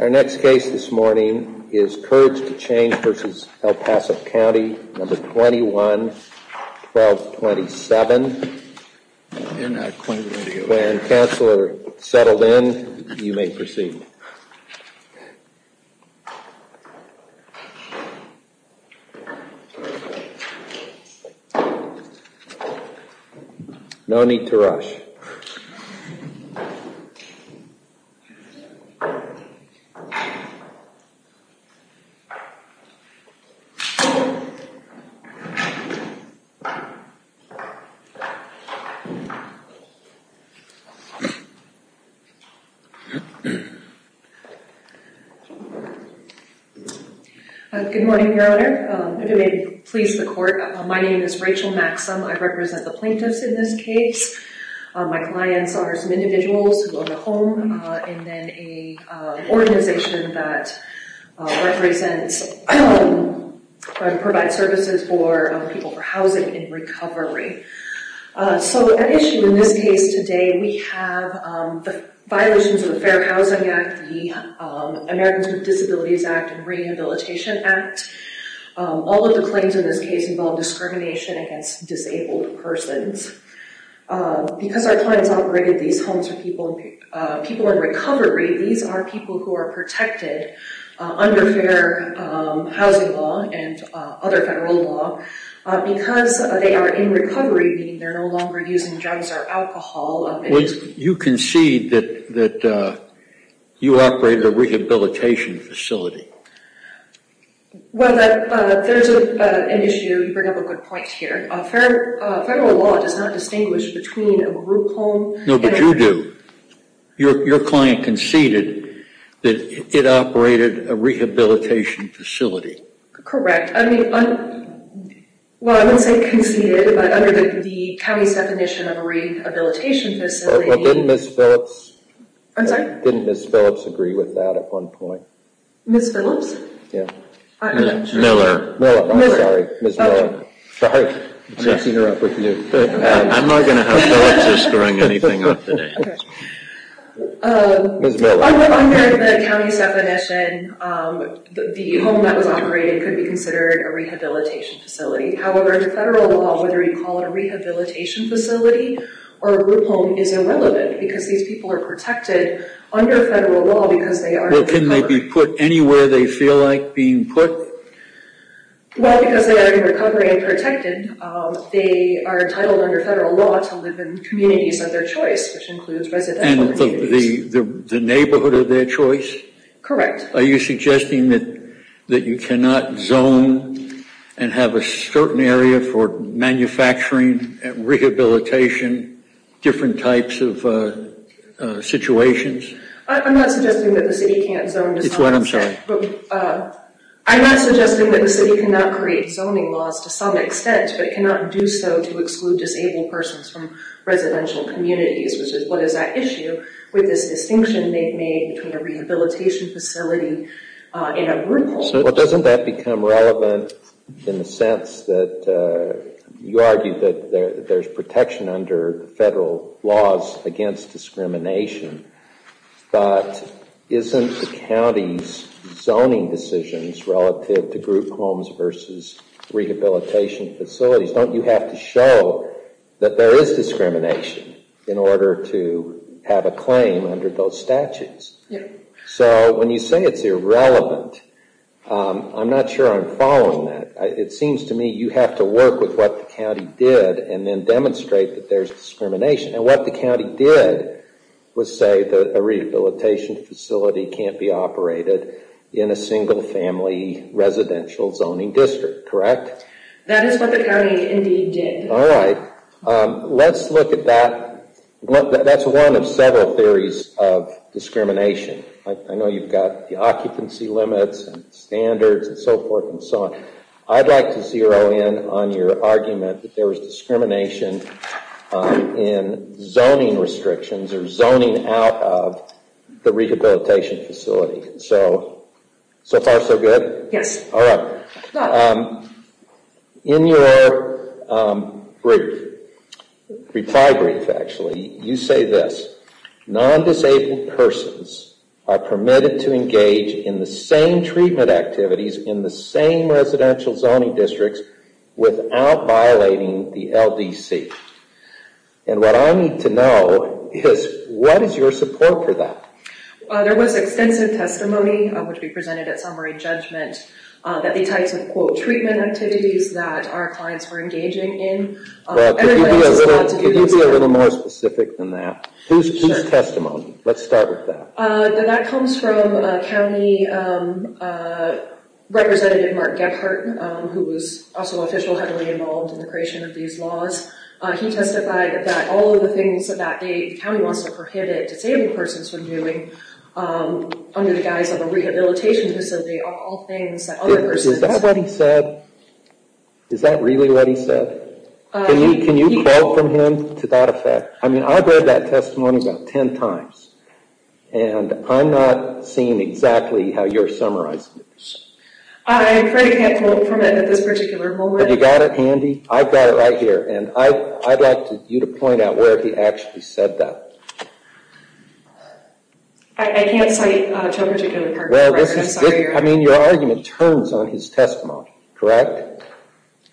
Our next case this morning is Courage to Change v. El Paso County, No. 21-1227. When the counselor settles in, you may proceed. No need to rush. You may proceed. Good morning, Your Honor. If it may please the Court, my name is Rachel Maxim. I represent the plaintiffs in this case. My clients are some individuals who own a home, and then an organization that represents and provides services for people for housing and recovery. So, at issue in this case today, we have the violations of the Fair Housing Act, the Americans with Disabilities Act, and Rehabilitation Act. All of the claims in this case involve discrimination against disabled persons. Because our clients operated these homes for people in recovery, these are people who are protected under fair housing law and other federal law. Because they are in recovery, meaning they are no longer using drugs or alcohol. You concede that you operate a rehabilitation facility. Well, there's an issue. You bring up a good point here. Federal law does not distinguish between a group home and a... No, but you do. Your client conceded that it operated a rehabilitation facility. Correct. I mean, well, I wouldn't say conceded, but under the county's definition of a rehabilitation facility... But didn't Ms. Phillips... I'm sorry? Didn't Ms. Phillips agree with that at one point? Ms. Phillips? Yeah. Miller. Miller, I'm sorry. Ms. Miller. Sorry. I'm messing her up with you. I'm not going to have Phillips screwing anything up today. Okay. Ms. Miller. Under the county's definition, the home that was operated could be considered a rehabilitation facility. However, federal law, whether you call it a rehabilitation facility or a group home, is irrelevant. Because these people are protected under federal law because they are in recovery. Well, can they be put anywhere they feel like being put? Well, because they are in recovery and protected, they are entitled under federal law to live in communities of their choice, which includes residential communities. And the neighborhood of their choice? Correct. Are you suggesting that you cannot zone and have a certain area for manufacturing, rehabilitation, different types of situations? I'm not suggesting that the city can't zone. It's what I'm saying. I'm not suggesting that the city cannot create zoning laws to some extent, but cannot do so to exclude disabled persons from residential communities, which is what is at issue with this distinction being made between a rehabilitation facility and a group home. Well, doesn't that become relevant in the sense that you argue that there's protection under federal laws against discrimination, but isn't the county's zoning decisions relative to group homes versus rehabilitation facilities? Don't you have to show that there is discrimination in order to have a claim under those statutes? Yeah. So when you say it's irrelevant, I'm not sure I'm following that. It seems to me you have to work with what the county did and then demonstrate that there's discrimination. And what the county did was say that a rehabilitation facility can't be operated in a single-family residential zoning district, correct? That is what the county indeed did. All right. Let's look at that. That's one of several theories of discrimination. I know you've got the occupancy limits and standards and so forth and so on. I'd like to zero in on your argument that there was discrimination in zoning restrictions or zoning out of the rehabilitation facility. So, so far so good? Yes. All right. In your brief, reply brief actually, you say this, non-disabled persons are permitted to engage in the same treatment activities in the same residential zoning districts without violating the LDC. And what I need to know is what is your support for that? There was extensive testimony, which we presented at summary judgment, that the types of, quote, treatment activities that our clients were engaging in. Can you be a little more specific than that? Whose testimony? Let's start with that. That comes from a county representative, Mark Gephardt, who was also an official heavily involved in the creation of these laws. He testified that all of the things that the county wants to prohibit disabled persons from doing under the guise of a rehabilitation facility are all things that other persons. Is that what he said? Is that really what he said? Can you quote from him to that effect? I mean, I've read that testimony about ten times, and I'm not seeing exactly how you're summarizing it. I'm afraid I can't quote from it at this particular moment. Have you got it handy? I've got it right here, and I'd like you to point out where he actually said that. I can't cite a particular part. I mean, your argument turns on his testimony, correct?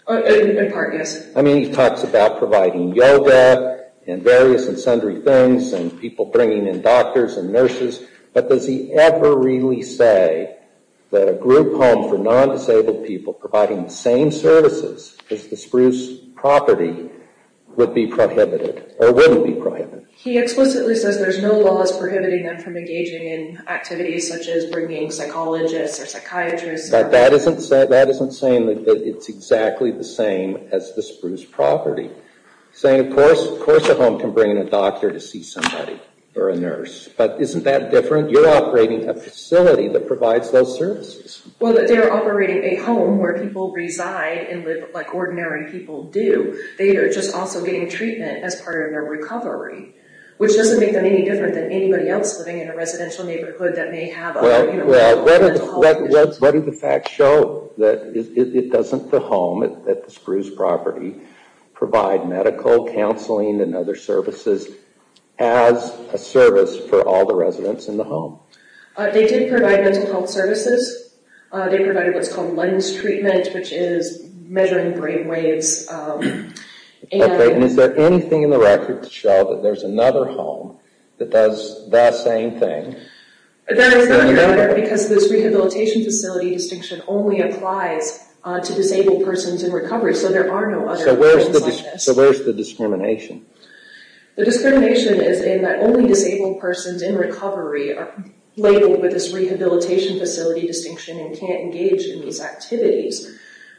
In part, yes. I mean, he talks about providing yoga and various and sundry things and people bringing in doctors and nurses, but does he ever really say that a group home for non-disabled people providing the same services as the Spruce property would be prohibited or wouldn't be prohibited? He explicitly says there's no laws prohibiting them from engaging in activities such as bringing psychologists or psychiatrists. But that isn't saying that it's exactly the same as the Spruce property. Of course a home can bring in a doctor to see somebody or a nurse, but isn't that different? You're operating a facility that provides those services. Well, they're operating a home where people reside and live like ordinary people do. They are just also getting treatment as part of their recovery, which doesn't make them any different than anybody else living in a residential neighborhood that may have other mental health issues. Well, what do the facts show that it doesn't the home at the Spruce property provide medical counseling and other services as a service for all the residents in the home? They did provide mental health services. They provided what's called lens treatment, which is measuring brain waves. Okay, and is there anything in the record to show that there's another home that does that same thing? That is not in the record because this rehabilitation facility distinction only applies to disabled persons in recovery. So there are no other homes like this. So where's the discrimination? The discrimination is in that only disabled persons in recovery are labeled with this rehabilitation facility distinction and can't engage in these activities.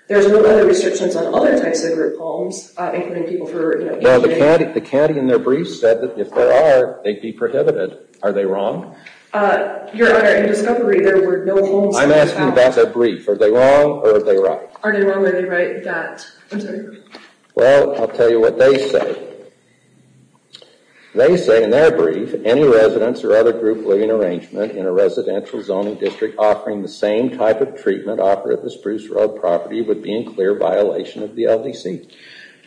There's no other restrictions on other types of group homes, including people who are, you know... Well, the county in their brief said that if there are, they'd be prohibited. Are they wrong? Your Honor, in discovery there were no homes... I'm asking about their brief. Are they wrong or are they right? Are they wrong or are they right that... Well, I'll tell you what they say. They say in their brief any residents or other group living arrangement in a residential zoning district offering the same type of treatment offered at the Spruce Road property would be in clear violation of the LDC.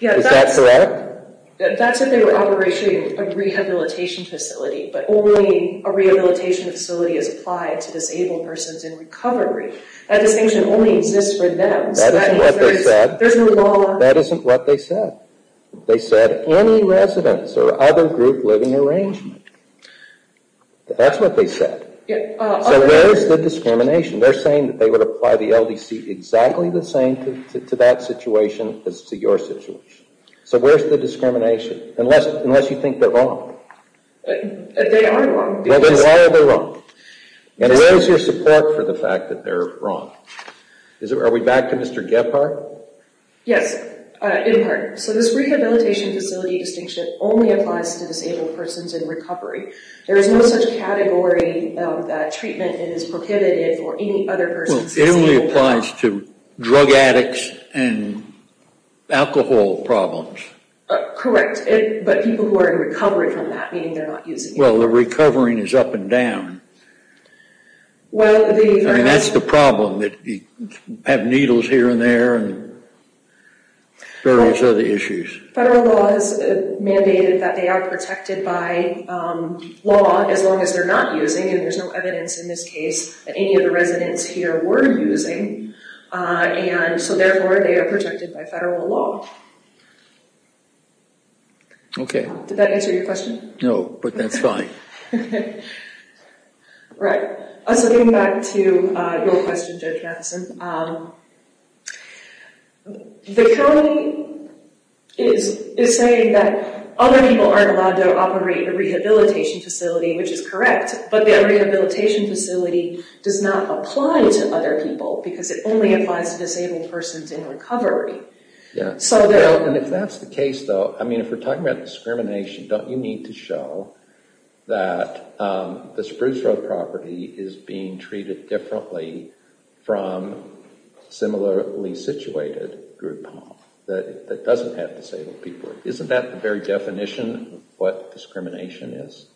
Is that correct? That's if they were operating a rehabilitation facility, but only a rehabilitation facility is applied to disabled persons in recovery. That distinction only exists for them. That isn't what they said. There's no law... That isn't what they said. They said any residents or other group living arrangement. That's what they said. So where is the discrimination? They're saying that they would apply the LDC exactly the same to that situation as to your situation. So where's the discrimination? Unless you think they're wrong. They are wrong. Why are they wrong? And where's your support for the fact that they're wrong? Are we back to Mr. Gebhardt? Yes, in part. So this rehabilitation facility distinction only applies to disabled persons in recovery. There is no such category of treatment that is prohibited for any other person. Well, it only applies to drug addicts and alcohol problems. Correct, but people who are in recovery from that, meaning they're not using it. Well, the recovering is up and down. Well, the... I mean, that's the problem, that you have needles here and there and various other issues. Federal law has mandated that they are protected by law as long as they're not using. And there's no evidence in this case that any of the residents here were using. And so, therefore, they are protected by federal law. Did that answer your question? No, but that's fine. So getting back to your question, Judge Matheson. The county is saying that other people aren't allowed to operate the rehabilitation facility, which is correct. But the rehabilitation facility does not apply to other people because it only applies to disabled persons in recovery. Yeah. So they're... And if that's the case, though, I mean, if we're talking about discrimination, don't you need to show that the Spruce Road property is being treated differently from a similarly situated group home that doesn't have disabled people? Isn't that the very definition of what discrimination is?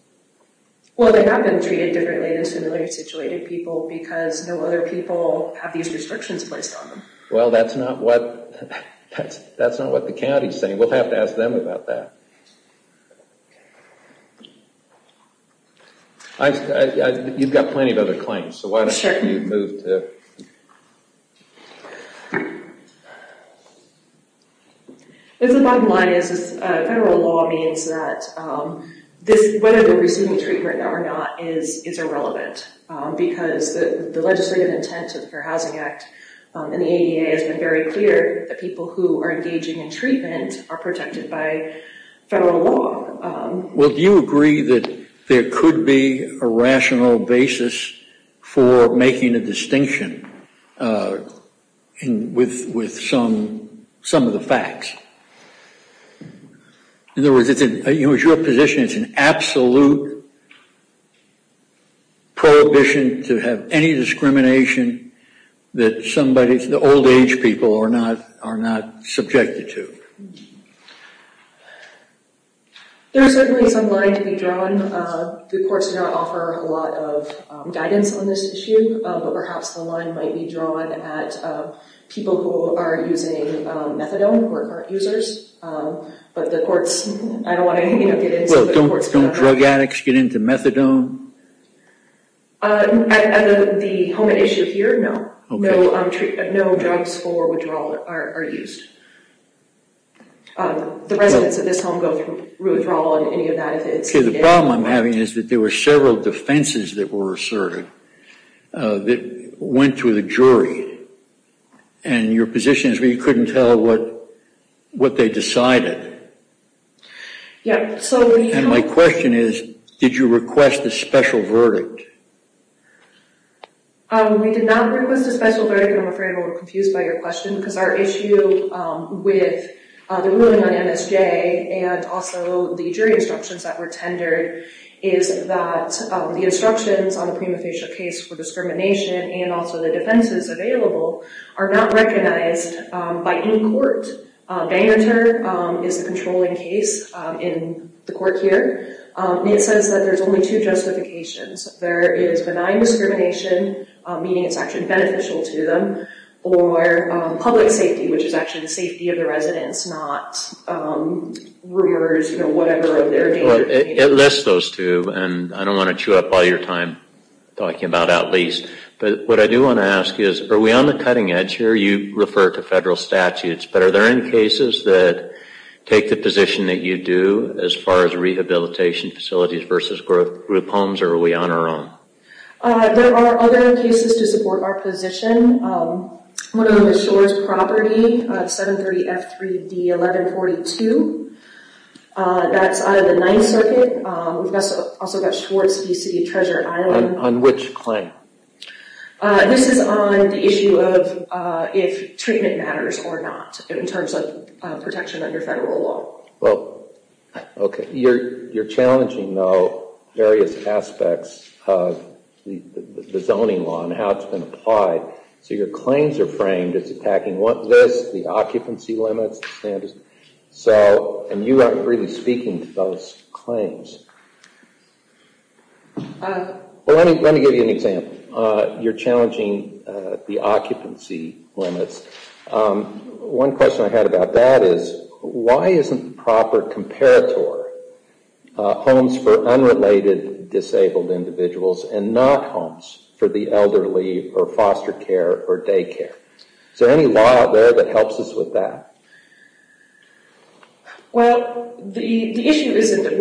Well, they have been treated differently than similarly situated people because no other people have these restrictions placed on them. Well, that's not what the county is saying. We'll have to ask them about that. You've got plenty of other claims, so why don't you move to... The bottom line is federal law means that whether they're receiving treatment or not is irrelevant because the legislative intent of the Fair Housing Act and the ADA has been very clear that people who are engaging in treatment are protected by federal law. Well, do you agree that there could be a rational basis for making a distinction with some of the facts? In other words, it's your position it's an absolute prohibition to have any discrimination that the old age people are not subjected to. There's certainly some line to be drawn. The courts do not offer a lot of guidance on this issue, but perhaps the line might be drawn at people who are using methadone who aren't users. But the courts, I don't want to get into... Well, don't drug addicts get into methadone? At the home at issue here, no. No drugs for withdrawal are used. The residents of this home go through withdrawal on any of that. The problem I'm having is that there were several defenses that were asserted that went to the jury. And your position is we couldn't tell what they decided. My question is, did you request a special verdict? We did not request a special verdict. I'm afraid I'm a little confused by your question because our issue with the ruling on MSJ and also the jury instructions that were tendered is that the instructions on the prima facie case for discrimination and also the defenses available are not recognized by any court. Bangor is the controlling case in the court here. It says that there's only two justifications. There is benign discrimination, meaning it's actually beneficial to them, or public safety, which is actually the safety of the residents, not rulers, whatever of their nature. It lists those two, and I don't want to chew up all your time talking about at least. But what I do want to ask is, are we on the cutting edge here? You refer to federal statutes, but are there any cases that take the position that you do as far as rehabilitation facilities versus group homes, or are we on our own? There are other cases to support our position. One of them is Shores Property, 730F3D1142. That's out of the Ninth Circuit. We've also got Schwartz v. City of Treasure Island. On which claim? This is on the issue of if treatment matters or not in terms of protection under federal law. You're challenging, though, various aspects of the zoning law and how it's been applied. So your claims are framed as attacking this, the occupancy limits, the standards. And you aren't really speaking to those claims. Let me give you an example. You're challenging the occupancy limits. One question I had about that is, why isn't the proper comparator homes for unrelated disabled individuals and not homes for the elderly or foster care or day care? Is there any law out there that helps us with that? Well, the issue isn't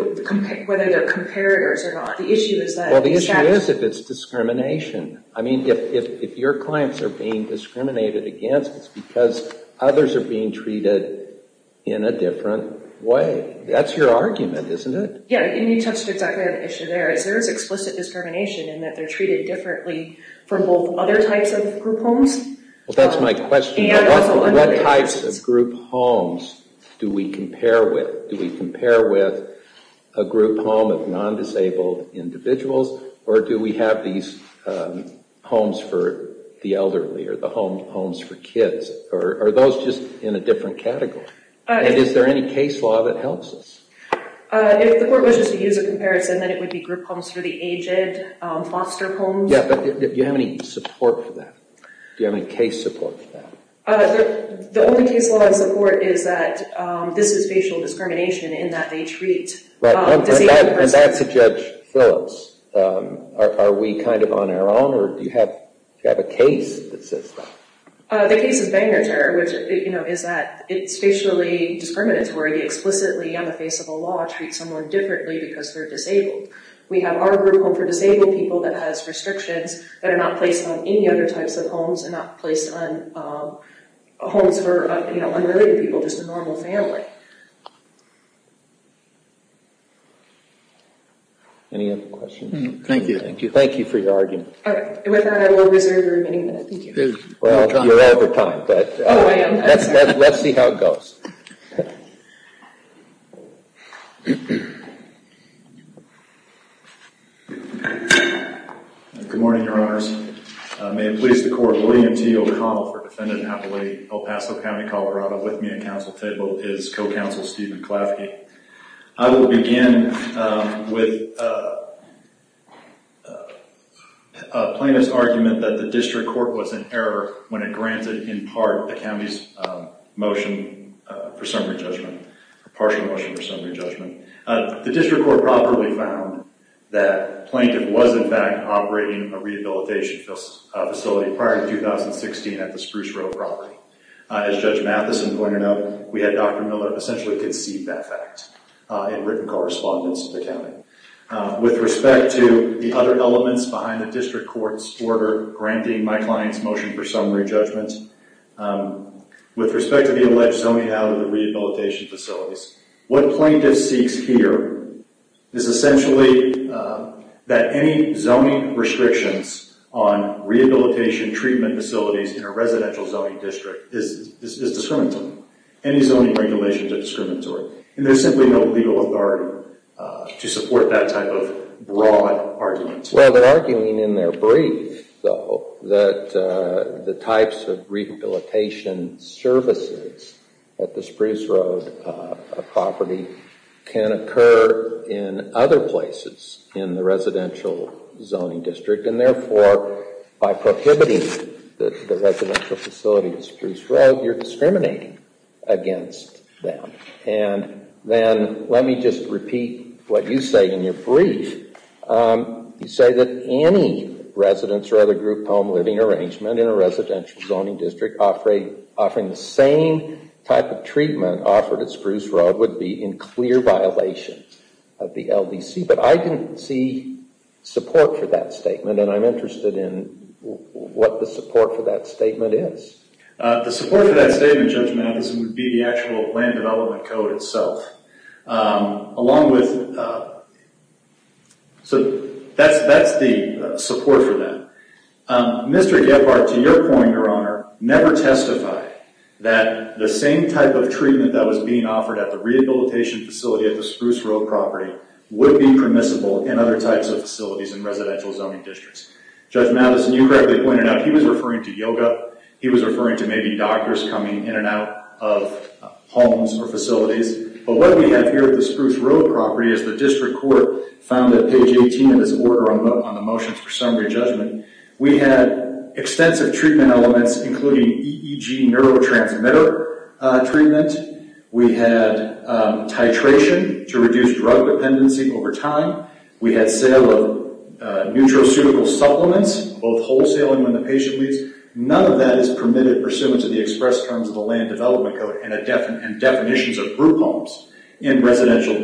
whether they're comparators or not. The issue is that... Well, the issue is if it's discrimination. I mean, if your clients are being discriminated against, it's because others are being treated in a different way. That's your argument, isn't it? Yeah, and you touched exactly on the issue there. Is there explicit discrimination in that they're treated differently from both other types of group homes? Well, that's my question. What types of group homes do we compare with? Do we compare with a group home of non-disabled individuals? Or do we have these homes for the elderly or the homes for kids? Are those just in a different category? And is there any case law that helps us? If the court wishes to use a comparison, then it would be group homes for the aged, foster homes. Yeah, but do you have any support for that? Do you have any case support for that? The only case law I support is that this is facial discrimination in that they treat disabled persons. And that's a Judge Phillips. Are we kind of on our own, or do you have a case that says that? The case is Banger Terror, which is that it's facially discriminatory to explicitly, on the face of the law, treat someone differently because they're disabled. We have our group home for disabled people that has restrictions that are not placed on any other types of homes and not placed on homes for unrelated people, just a normal family. Any other questions? Thank you. Thank you for your argument. With that, I will reserve the remaining minutes. Well, you're over time. Oh, I am. Let's see how it goes. Good morning, Your Honors. May it please the Court, William T. O'Connell for Defendant Appalachia, El Paso County, Colorado. With me at counsel table is Co-Counsel Stephen Klafke. I will begin with a plaintiff's argument that the district court was in error when it granted, in part, the county's motion for summary judgment, a partial motion for summary judgment. The district court properly found that the plaintiff was, in fact, operating a rehabilitation facility prior to 2016 at the Spruce Road property. As Judge Matheson pointed out, we had Dr. Miller essentially concede that fact in written correspondence to the county. With respect to the other elements behind the district court's order granting my client's motion for summary judgment, with respect to the alleged zoning out of the rehabilitation facilities, what plaintiff seeks here is essentially that any zoning restrictions on rehabilitation treatment facilities in a residential zoning district is discriminatory. Any zoning regulations are discriminatory. And there's simply no legal authority to support that type of broad argument. Well, they're arguing in their brief, though, that the types of rehabilitation services at the Spruce Road property can occur in other places in the residential zoning district and, therefore, by prohibiting the residential facility at Spruce Road, you're discriminating against them. And then let me just repeat what you say in your brief. You say that any residence or other group home living arrangement in a residential zoning district offering the same type of treatment offered at Spruce Road would be in clear violation of the LDC. But I didn't see support for that statement, and I'm interested in what the support for that statement is. The support for that statement, Judge Matheson, would be the actual land development code itself, along with the support for that. Mr. Gephardt, to your point, Your Honor, never testified that the same type of treatment that was being offered at the rehabilitation facility at the Spruce Road property would be permissible in other types of facilities in residential zoning districts. Judge Matheson, you correctly pointed out he was referring to yoga. He was referring to maybe doctors coming in and out of homes or facilities. But what we have here at the Spruce Road property is the district court found that page 18 of this order on the motions for summary judgment. We had extensive treatment elements, including EEG neurotransmitter treatment. We had titration to reduce drug dependency over time. We had sale of nutraceutical supplements, both wholesale and when the patient leaves. None of that is permitted pursuant to the express terms of the land development code and definitions of group homes in residential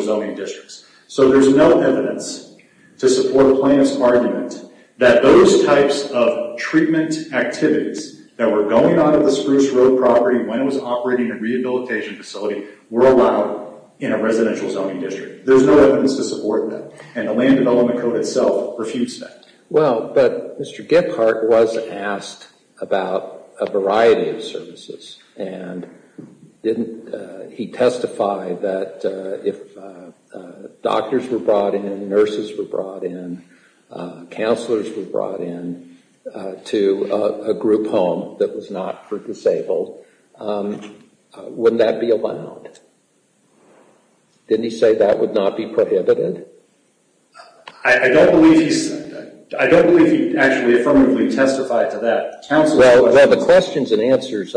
zoning districts. So there's no evidence to support the plaintiff's argument that those types of treatment activities that were going on at the Spruce Road property when it was operating a rehabilitation facility were allowed in a residential zoning district. There's no evidence to support that, and the land development code itself refused that. Well, but Mr. Gephardt was asked about a variety of services, and he testified that if doctors were brought in, nurses were brought in, counselors were brought in to a group home that was not for disabled, wouldn't that be allowed? Didn't he say that would not be prohibited? I don't believe he actually affirmatively testified to that. Well, the questions and answers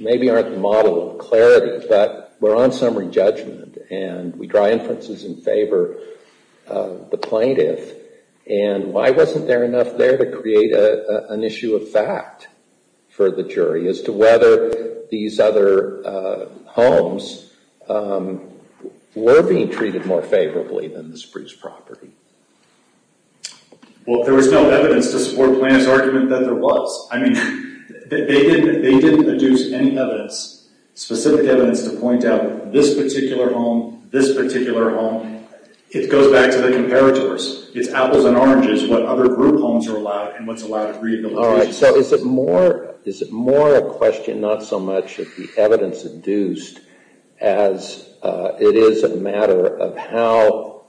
maybe aren't the model of clarity, but we're on summary judgment, and we draw inferences in favor of the plaintiff, and why wasn't there enough there to create an issue of fact for the jury as to whether these other homes were being treated more favorably than the Spruce property? Well, there was no evidence to support the plaintiff's argument that there was. I mean, they didn't deduce any evidence, specific evidence to point out this particular home, this particular home. It goes back to the comparators. It's apples and oranges what other group homes are allowed and what's allowed at rehabilitation. All right, so is it more a question, not so much of the evidence deduced, as it is a matter of how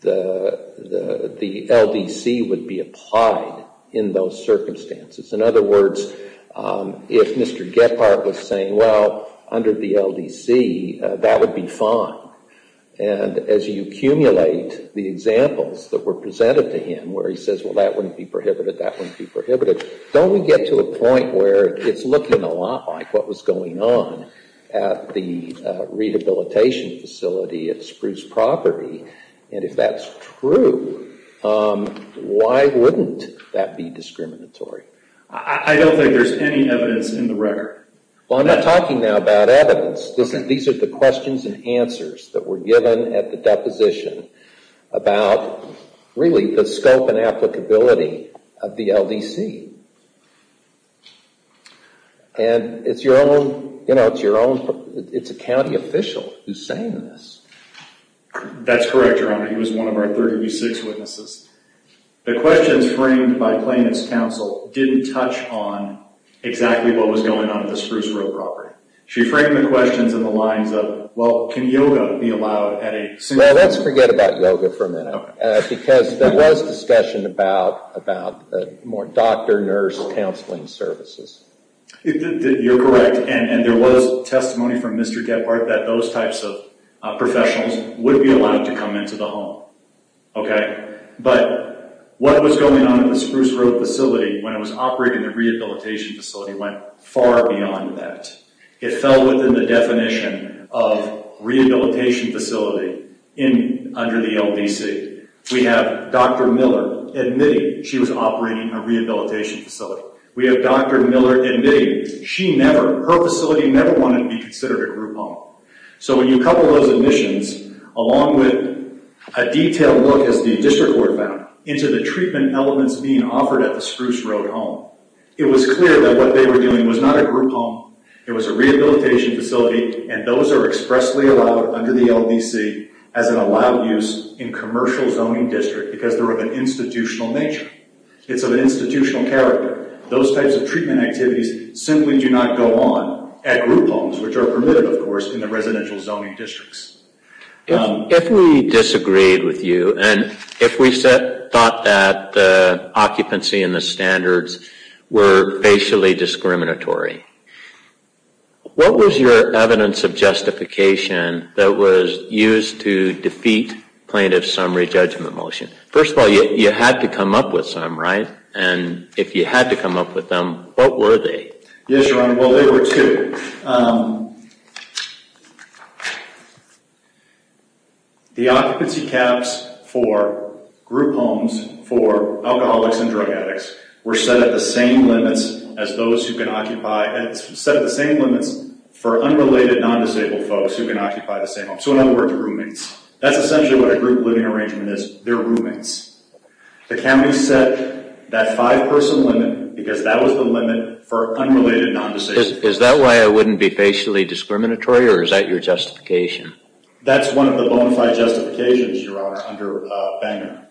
the LDC would be applied in those circumstances? In other words, if Mr. Gephardt was saying, well, under the LDC, that would be fine, and as you accumulate the examples that were presented to him where he says, well, that wouldn't be prohibited, that wouldn't be prohibited, don't we get to a point where it's looking a lot like what was going on at the rehabilitation facility at Spruce property? And if that's true, why wouldn't that be discriminatory? I don't think there's any evidence in the record. Well, I'm not talking now about evidence. These are the questions and answers that were given at the deposition about really the scope and applicability of the LDC. And it's your own, you know, it's a county official who's saying this. That's correct, Your Honor. He was one of our 30B6 witnesses. The questions framed by plaintiff's counsel didn't touch on exactly what was going on at the Spruce Road property. She framed the questions in the lines of, well, can yoga be allowed at a… Well, let's forget about yoga for a minute, because there was discussion about more doctor-nurse counseling services. You're correct. And there was testimony from Mr. Gebhardt that those types of professionals would be allowed to come into the home. Okay. But what was going on at the Spruce Road facility when it was operating the rehabilitation facility went far beyond that. It fell within the definition of rehabilitation facility under the LDC. We have Dr. Miller admitting she was operating a rehabilitation facility. We have Dr. Miller admitting she never, her facility never wanted to be considered a group home. So when you couple those admissions along with a detailed look, as the district court found, into the treatment elements being offered at the Spruce Road home, it was clear that what they were doing was not a group home. It was a rehabilitation facility, and those are expressly allowed under the LDC as an allowed use in commercial zoning district because they're of an institutional nature. It's of an institutional character. Those types of treatment activities simply do not go on at group homes, which are permitted, of course, in the residential zoning districts. If we disagreed with you, and if we thought that the occupancy and the standards were facially discriminatory, what was your evidence of justification that was used to defeat plaintiff's summary judgment motion? First of all, you had to come up with some, right? And if you had to come up with them, what were they? Yes, Your Honor, well, there were two. The occupancy caps for group homes for alcoholics and drug addicts were set at the same limits as those who can occupy, set at the same limits for unrelated non-disabled folks who can occupy the same home. So in other words, roommates. That's essentially what a group living arrangement is. They're roommates. The county set that five-person limit because that was the limit for unrelated non-disabled folks. Is that why it wouldn't be facially discriminatory, or is that your justification? That's one of the bonafide justifications, Your Honor, under Bangor.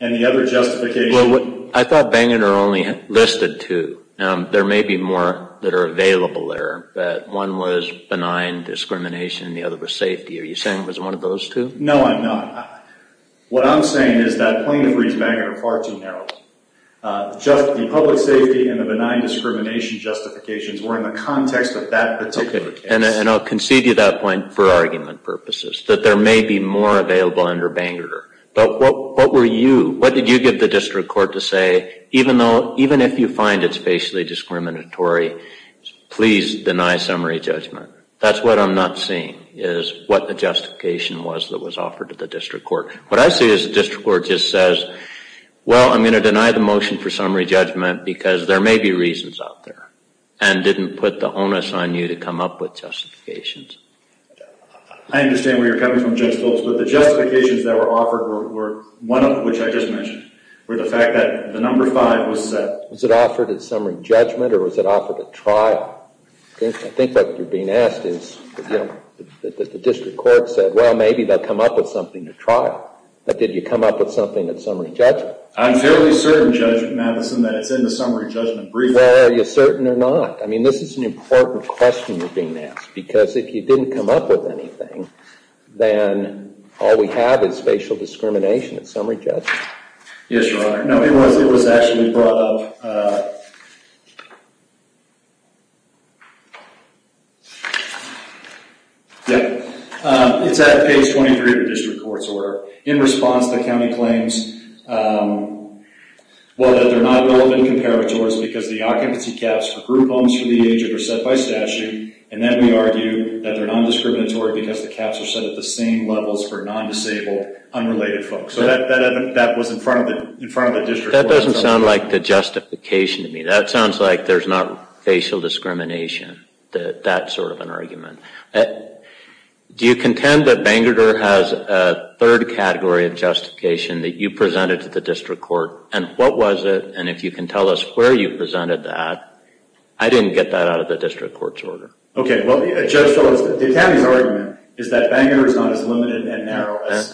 And the other justification... Well, I thought Bangor only listed two. There may be more that are available there, but one was benign discrimination and the other was safety. Are you saying it was one of those two? No, I'm not. What I'm saying is that Plaintiff reads Bangor far too narrowly. Just the public safety and the benign discrimination justifications were in the context of that particular case. Okay, and I'll concede to you that point for argument purposes, that there may be more available under Bangor. But what were you, what did you give the district court to say, even if you find it's facially discriminatory, please deny summary judgment? That's what I'm not seeing, is what the justification was that was offered to the district court. What I see is the district court just says, well, I'm going to deny the motion for summary judgment because there may be reasons out there, and didn't put the onus on you to come up with justifications. I understand where you're coming from, Judge Folkes, but the justifications that were offered were one of which I just mentioned, were the fact that the number five was set. Was it offered as summary judgment or was it offered at trial? I think what you're being asked is, you know, that the district court said, well, maybe they'll come up with something at trial. But did you come up with something at summary judgment? I'm fairly certain, Judge Matheson, that it's in the summary judgment brief. Well, are you certain or not? I mean, this is an important question you're being asked, because if you didn't come up with anything, Yes, Your Honor. No, it was actually brought up. Yeah. It's at page 23 of the district court's order. In response, the county claims, well, that they're not relevant comparators because the occupancy caps for group homes for the aged are set by statute, and then we argue that they're non-discriminatory because the caps are set at the same levels for non-disabled, unrelated folks. So that was in front of the district court. That doesn't sound like the justification to me. That sounds like there's not facial discrimination, that sort of an argument. Do you contend that Bangor has a third category of justification that you presented to the district court? And what was it? And if you can tell us where you presented that. I didn't get that out of the district court's order. Okay. Well, Judge Phillips, the county's argument is that Bangor is not as limited and narrow as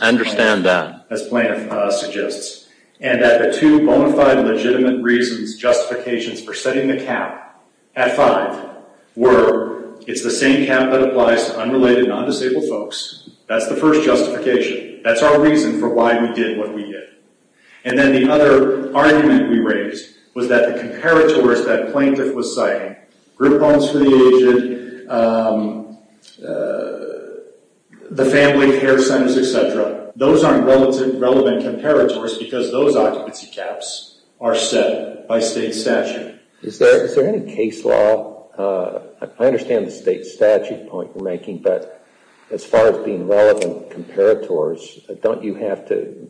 plaintiff suggests, and that the two bona fide legitimate reasons, justifications for setting the cap at five were it's the same cap that applies to unrelated, non-disabled folks. That's the first justification. That's our reason for why we did what we did. And then the other argument we raised was that the comparators that plaintiff was citing, those aren't relevant comparators because those occupancy caps are set by state statute. Is there any case law, I understand the state statute point you're making, but as far as being relevant comparators, don't you have to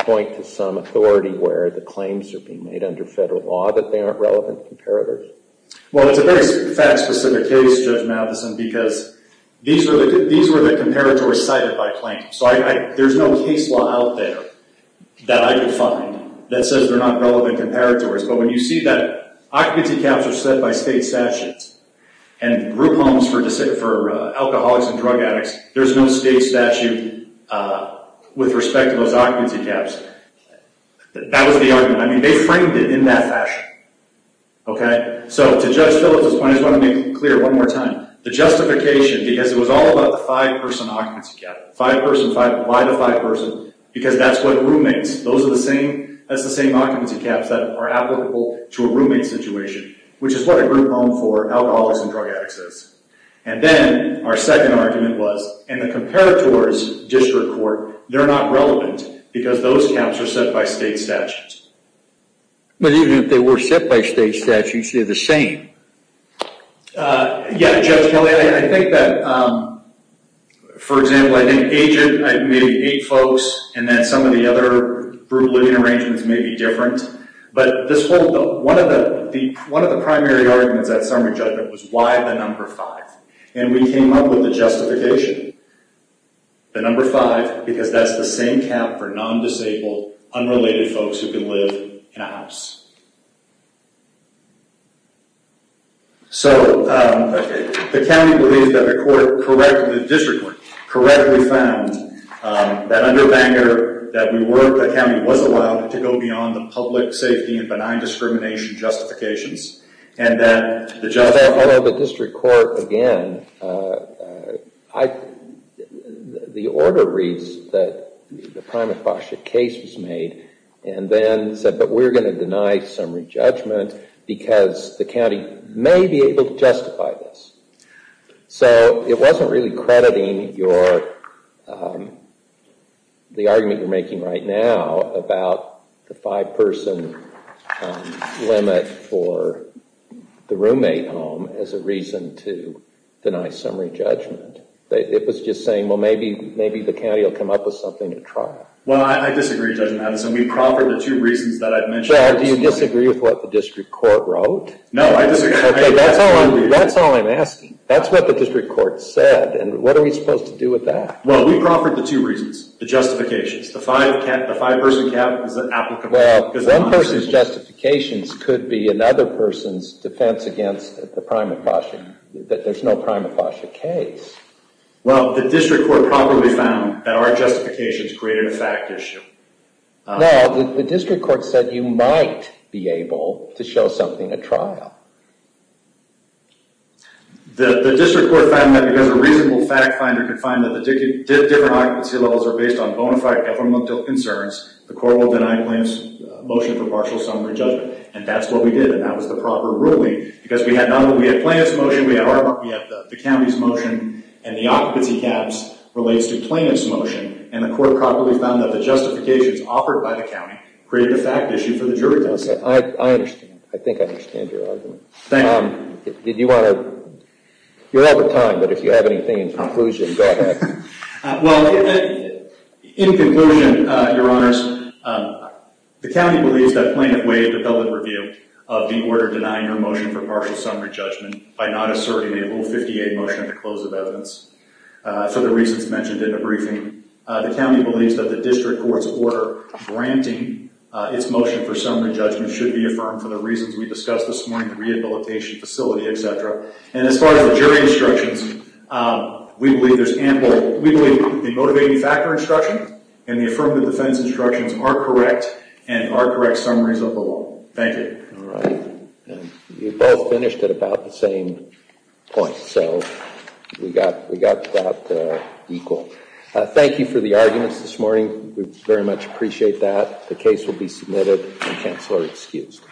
point to some authority where the claims are being made under federal law that they aren't relevant comparators? Well, it's a very fact-specific case, Judge Matheson, because these were the comparators cited by plaintiff. So there's no case law out there that I could find that says they're not relevant comparators. But when you see that occupancy caps are set by state statutes, and group homes for alcoholics and drug addicts, there's no state statute with respect to those occupancy caps. That was the argument. I mean, they framed it in that fashion. Okay. So to Judge Phillips's point, I just want to make it clear one more time. The justification, because it was all about the five-person occupancy cap, five-person, five, why the five-person? Because that's what roommates, those are the same occupancy caps that are applicable to a roommate situation, which is what a group home for alcoholics and drug addicts is. And then our second argument was, in the comparators district court, they're not relevant because those caps are set by state statutes. But even if they were set by state statutes, they're the same. Yeah, Judge Kelly, I think that, for example, I think agent, maybe eight folks, and then some of the other group living arrangements may be different. But this whole, one of the primary arguments at summary judgment was, why the number five? And we came up with a justification, the number five, because that's the same cap for non-disabled, unrelated folks who can live in a house. So the county believed that the court correctly, the district court correctly found that under Bangor, that we weren't, the county wasn't allowed to go beyond the public safety and benign discrimination justifications. And that the judge- I know the district court, again, the order reads that the prima facie case was made, and then said, but we're going to deny summary judgment because the county may be able to justify this. So it wasn't really crediting your, the argument you're making right now about the five-person limit for the roommate home as a reason to deny summary judgment. It was just saying, well, maybe the county will come up with something to try. Well, I disagree, Judge Madison. We proffered the two reasons that I've mentioned. Brad, do you disagree with what the district court wrote? No, I disagree. That's all I'm asking. That's what the district court said. And what are we supposed to do with that? Well, we proffered the two reasons, the justifications. The five-person cap is applicable. Well, one person's justifications could be another person's defense against the prima facie, that there's no prima facie case. Well, the district court probably found that our justifications created a fact issue. No, the district court said you might be able to show something at trial. The district court found that because a reasonable fact finder could find that the different occupancy levels are based on bona fide governmental concerns, the court will deny plaintiff's motion for partial summary judgment. And that's what we did, and that was the proper ruling, because we had plaintiff's motion, we had the county's motion, and the occupancy caps relates to plaintiff's motion, and the court probably found that the justifications offered by the county created a fact issue for the jury test. I understand. I think I understand your argument. Thank you. You're out of time, but if you have anything in conclusion, go ahead. Well, in conclusion, Your Honors, the county believes that plaintiff may have developed a view of the order denying her motion for partial summary judgment by not asserting a Rule 58 motion at the close of evidence. For the reasons mentioned in the briefing, the county believes that the district court's order granting its motion for summary judgment should be affirmed for the reasons we discussed this morning, the rehabilitation facility, et cetera. And as far as the jury instructions, we believe the motivating factor instruction and the affirmative defense instructions are correct and are correct summaries of the law. Thank you. All right. You both finished at about the same point, so we got that equal. Thank you for the arguments this morning. We very much appreciate that. The case will be submitted and counselor excused.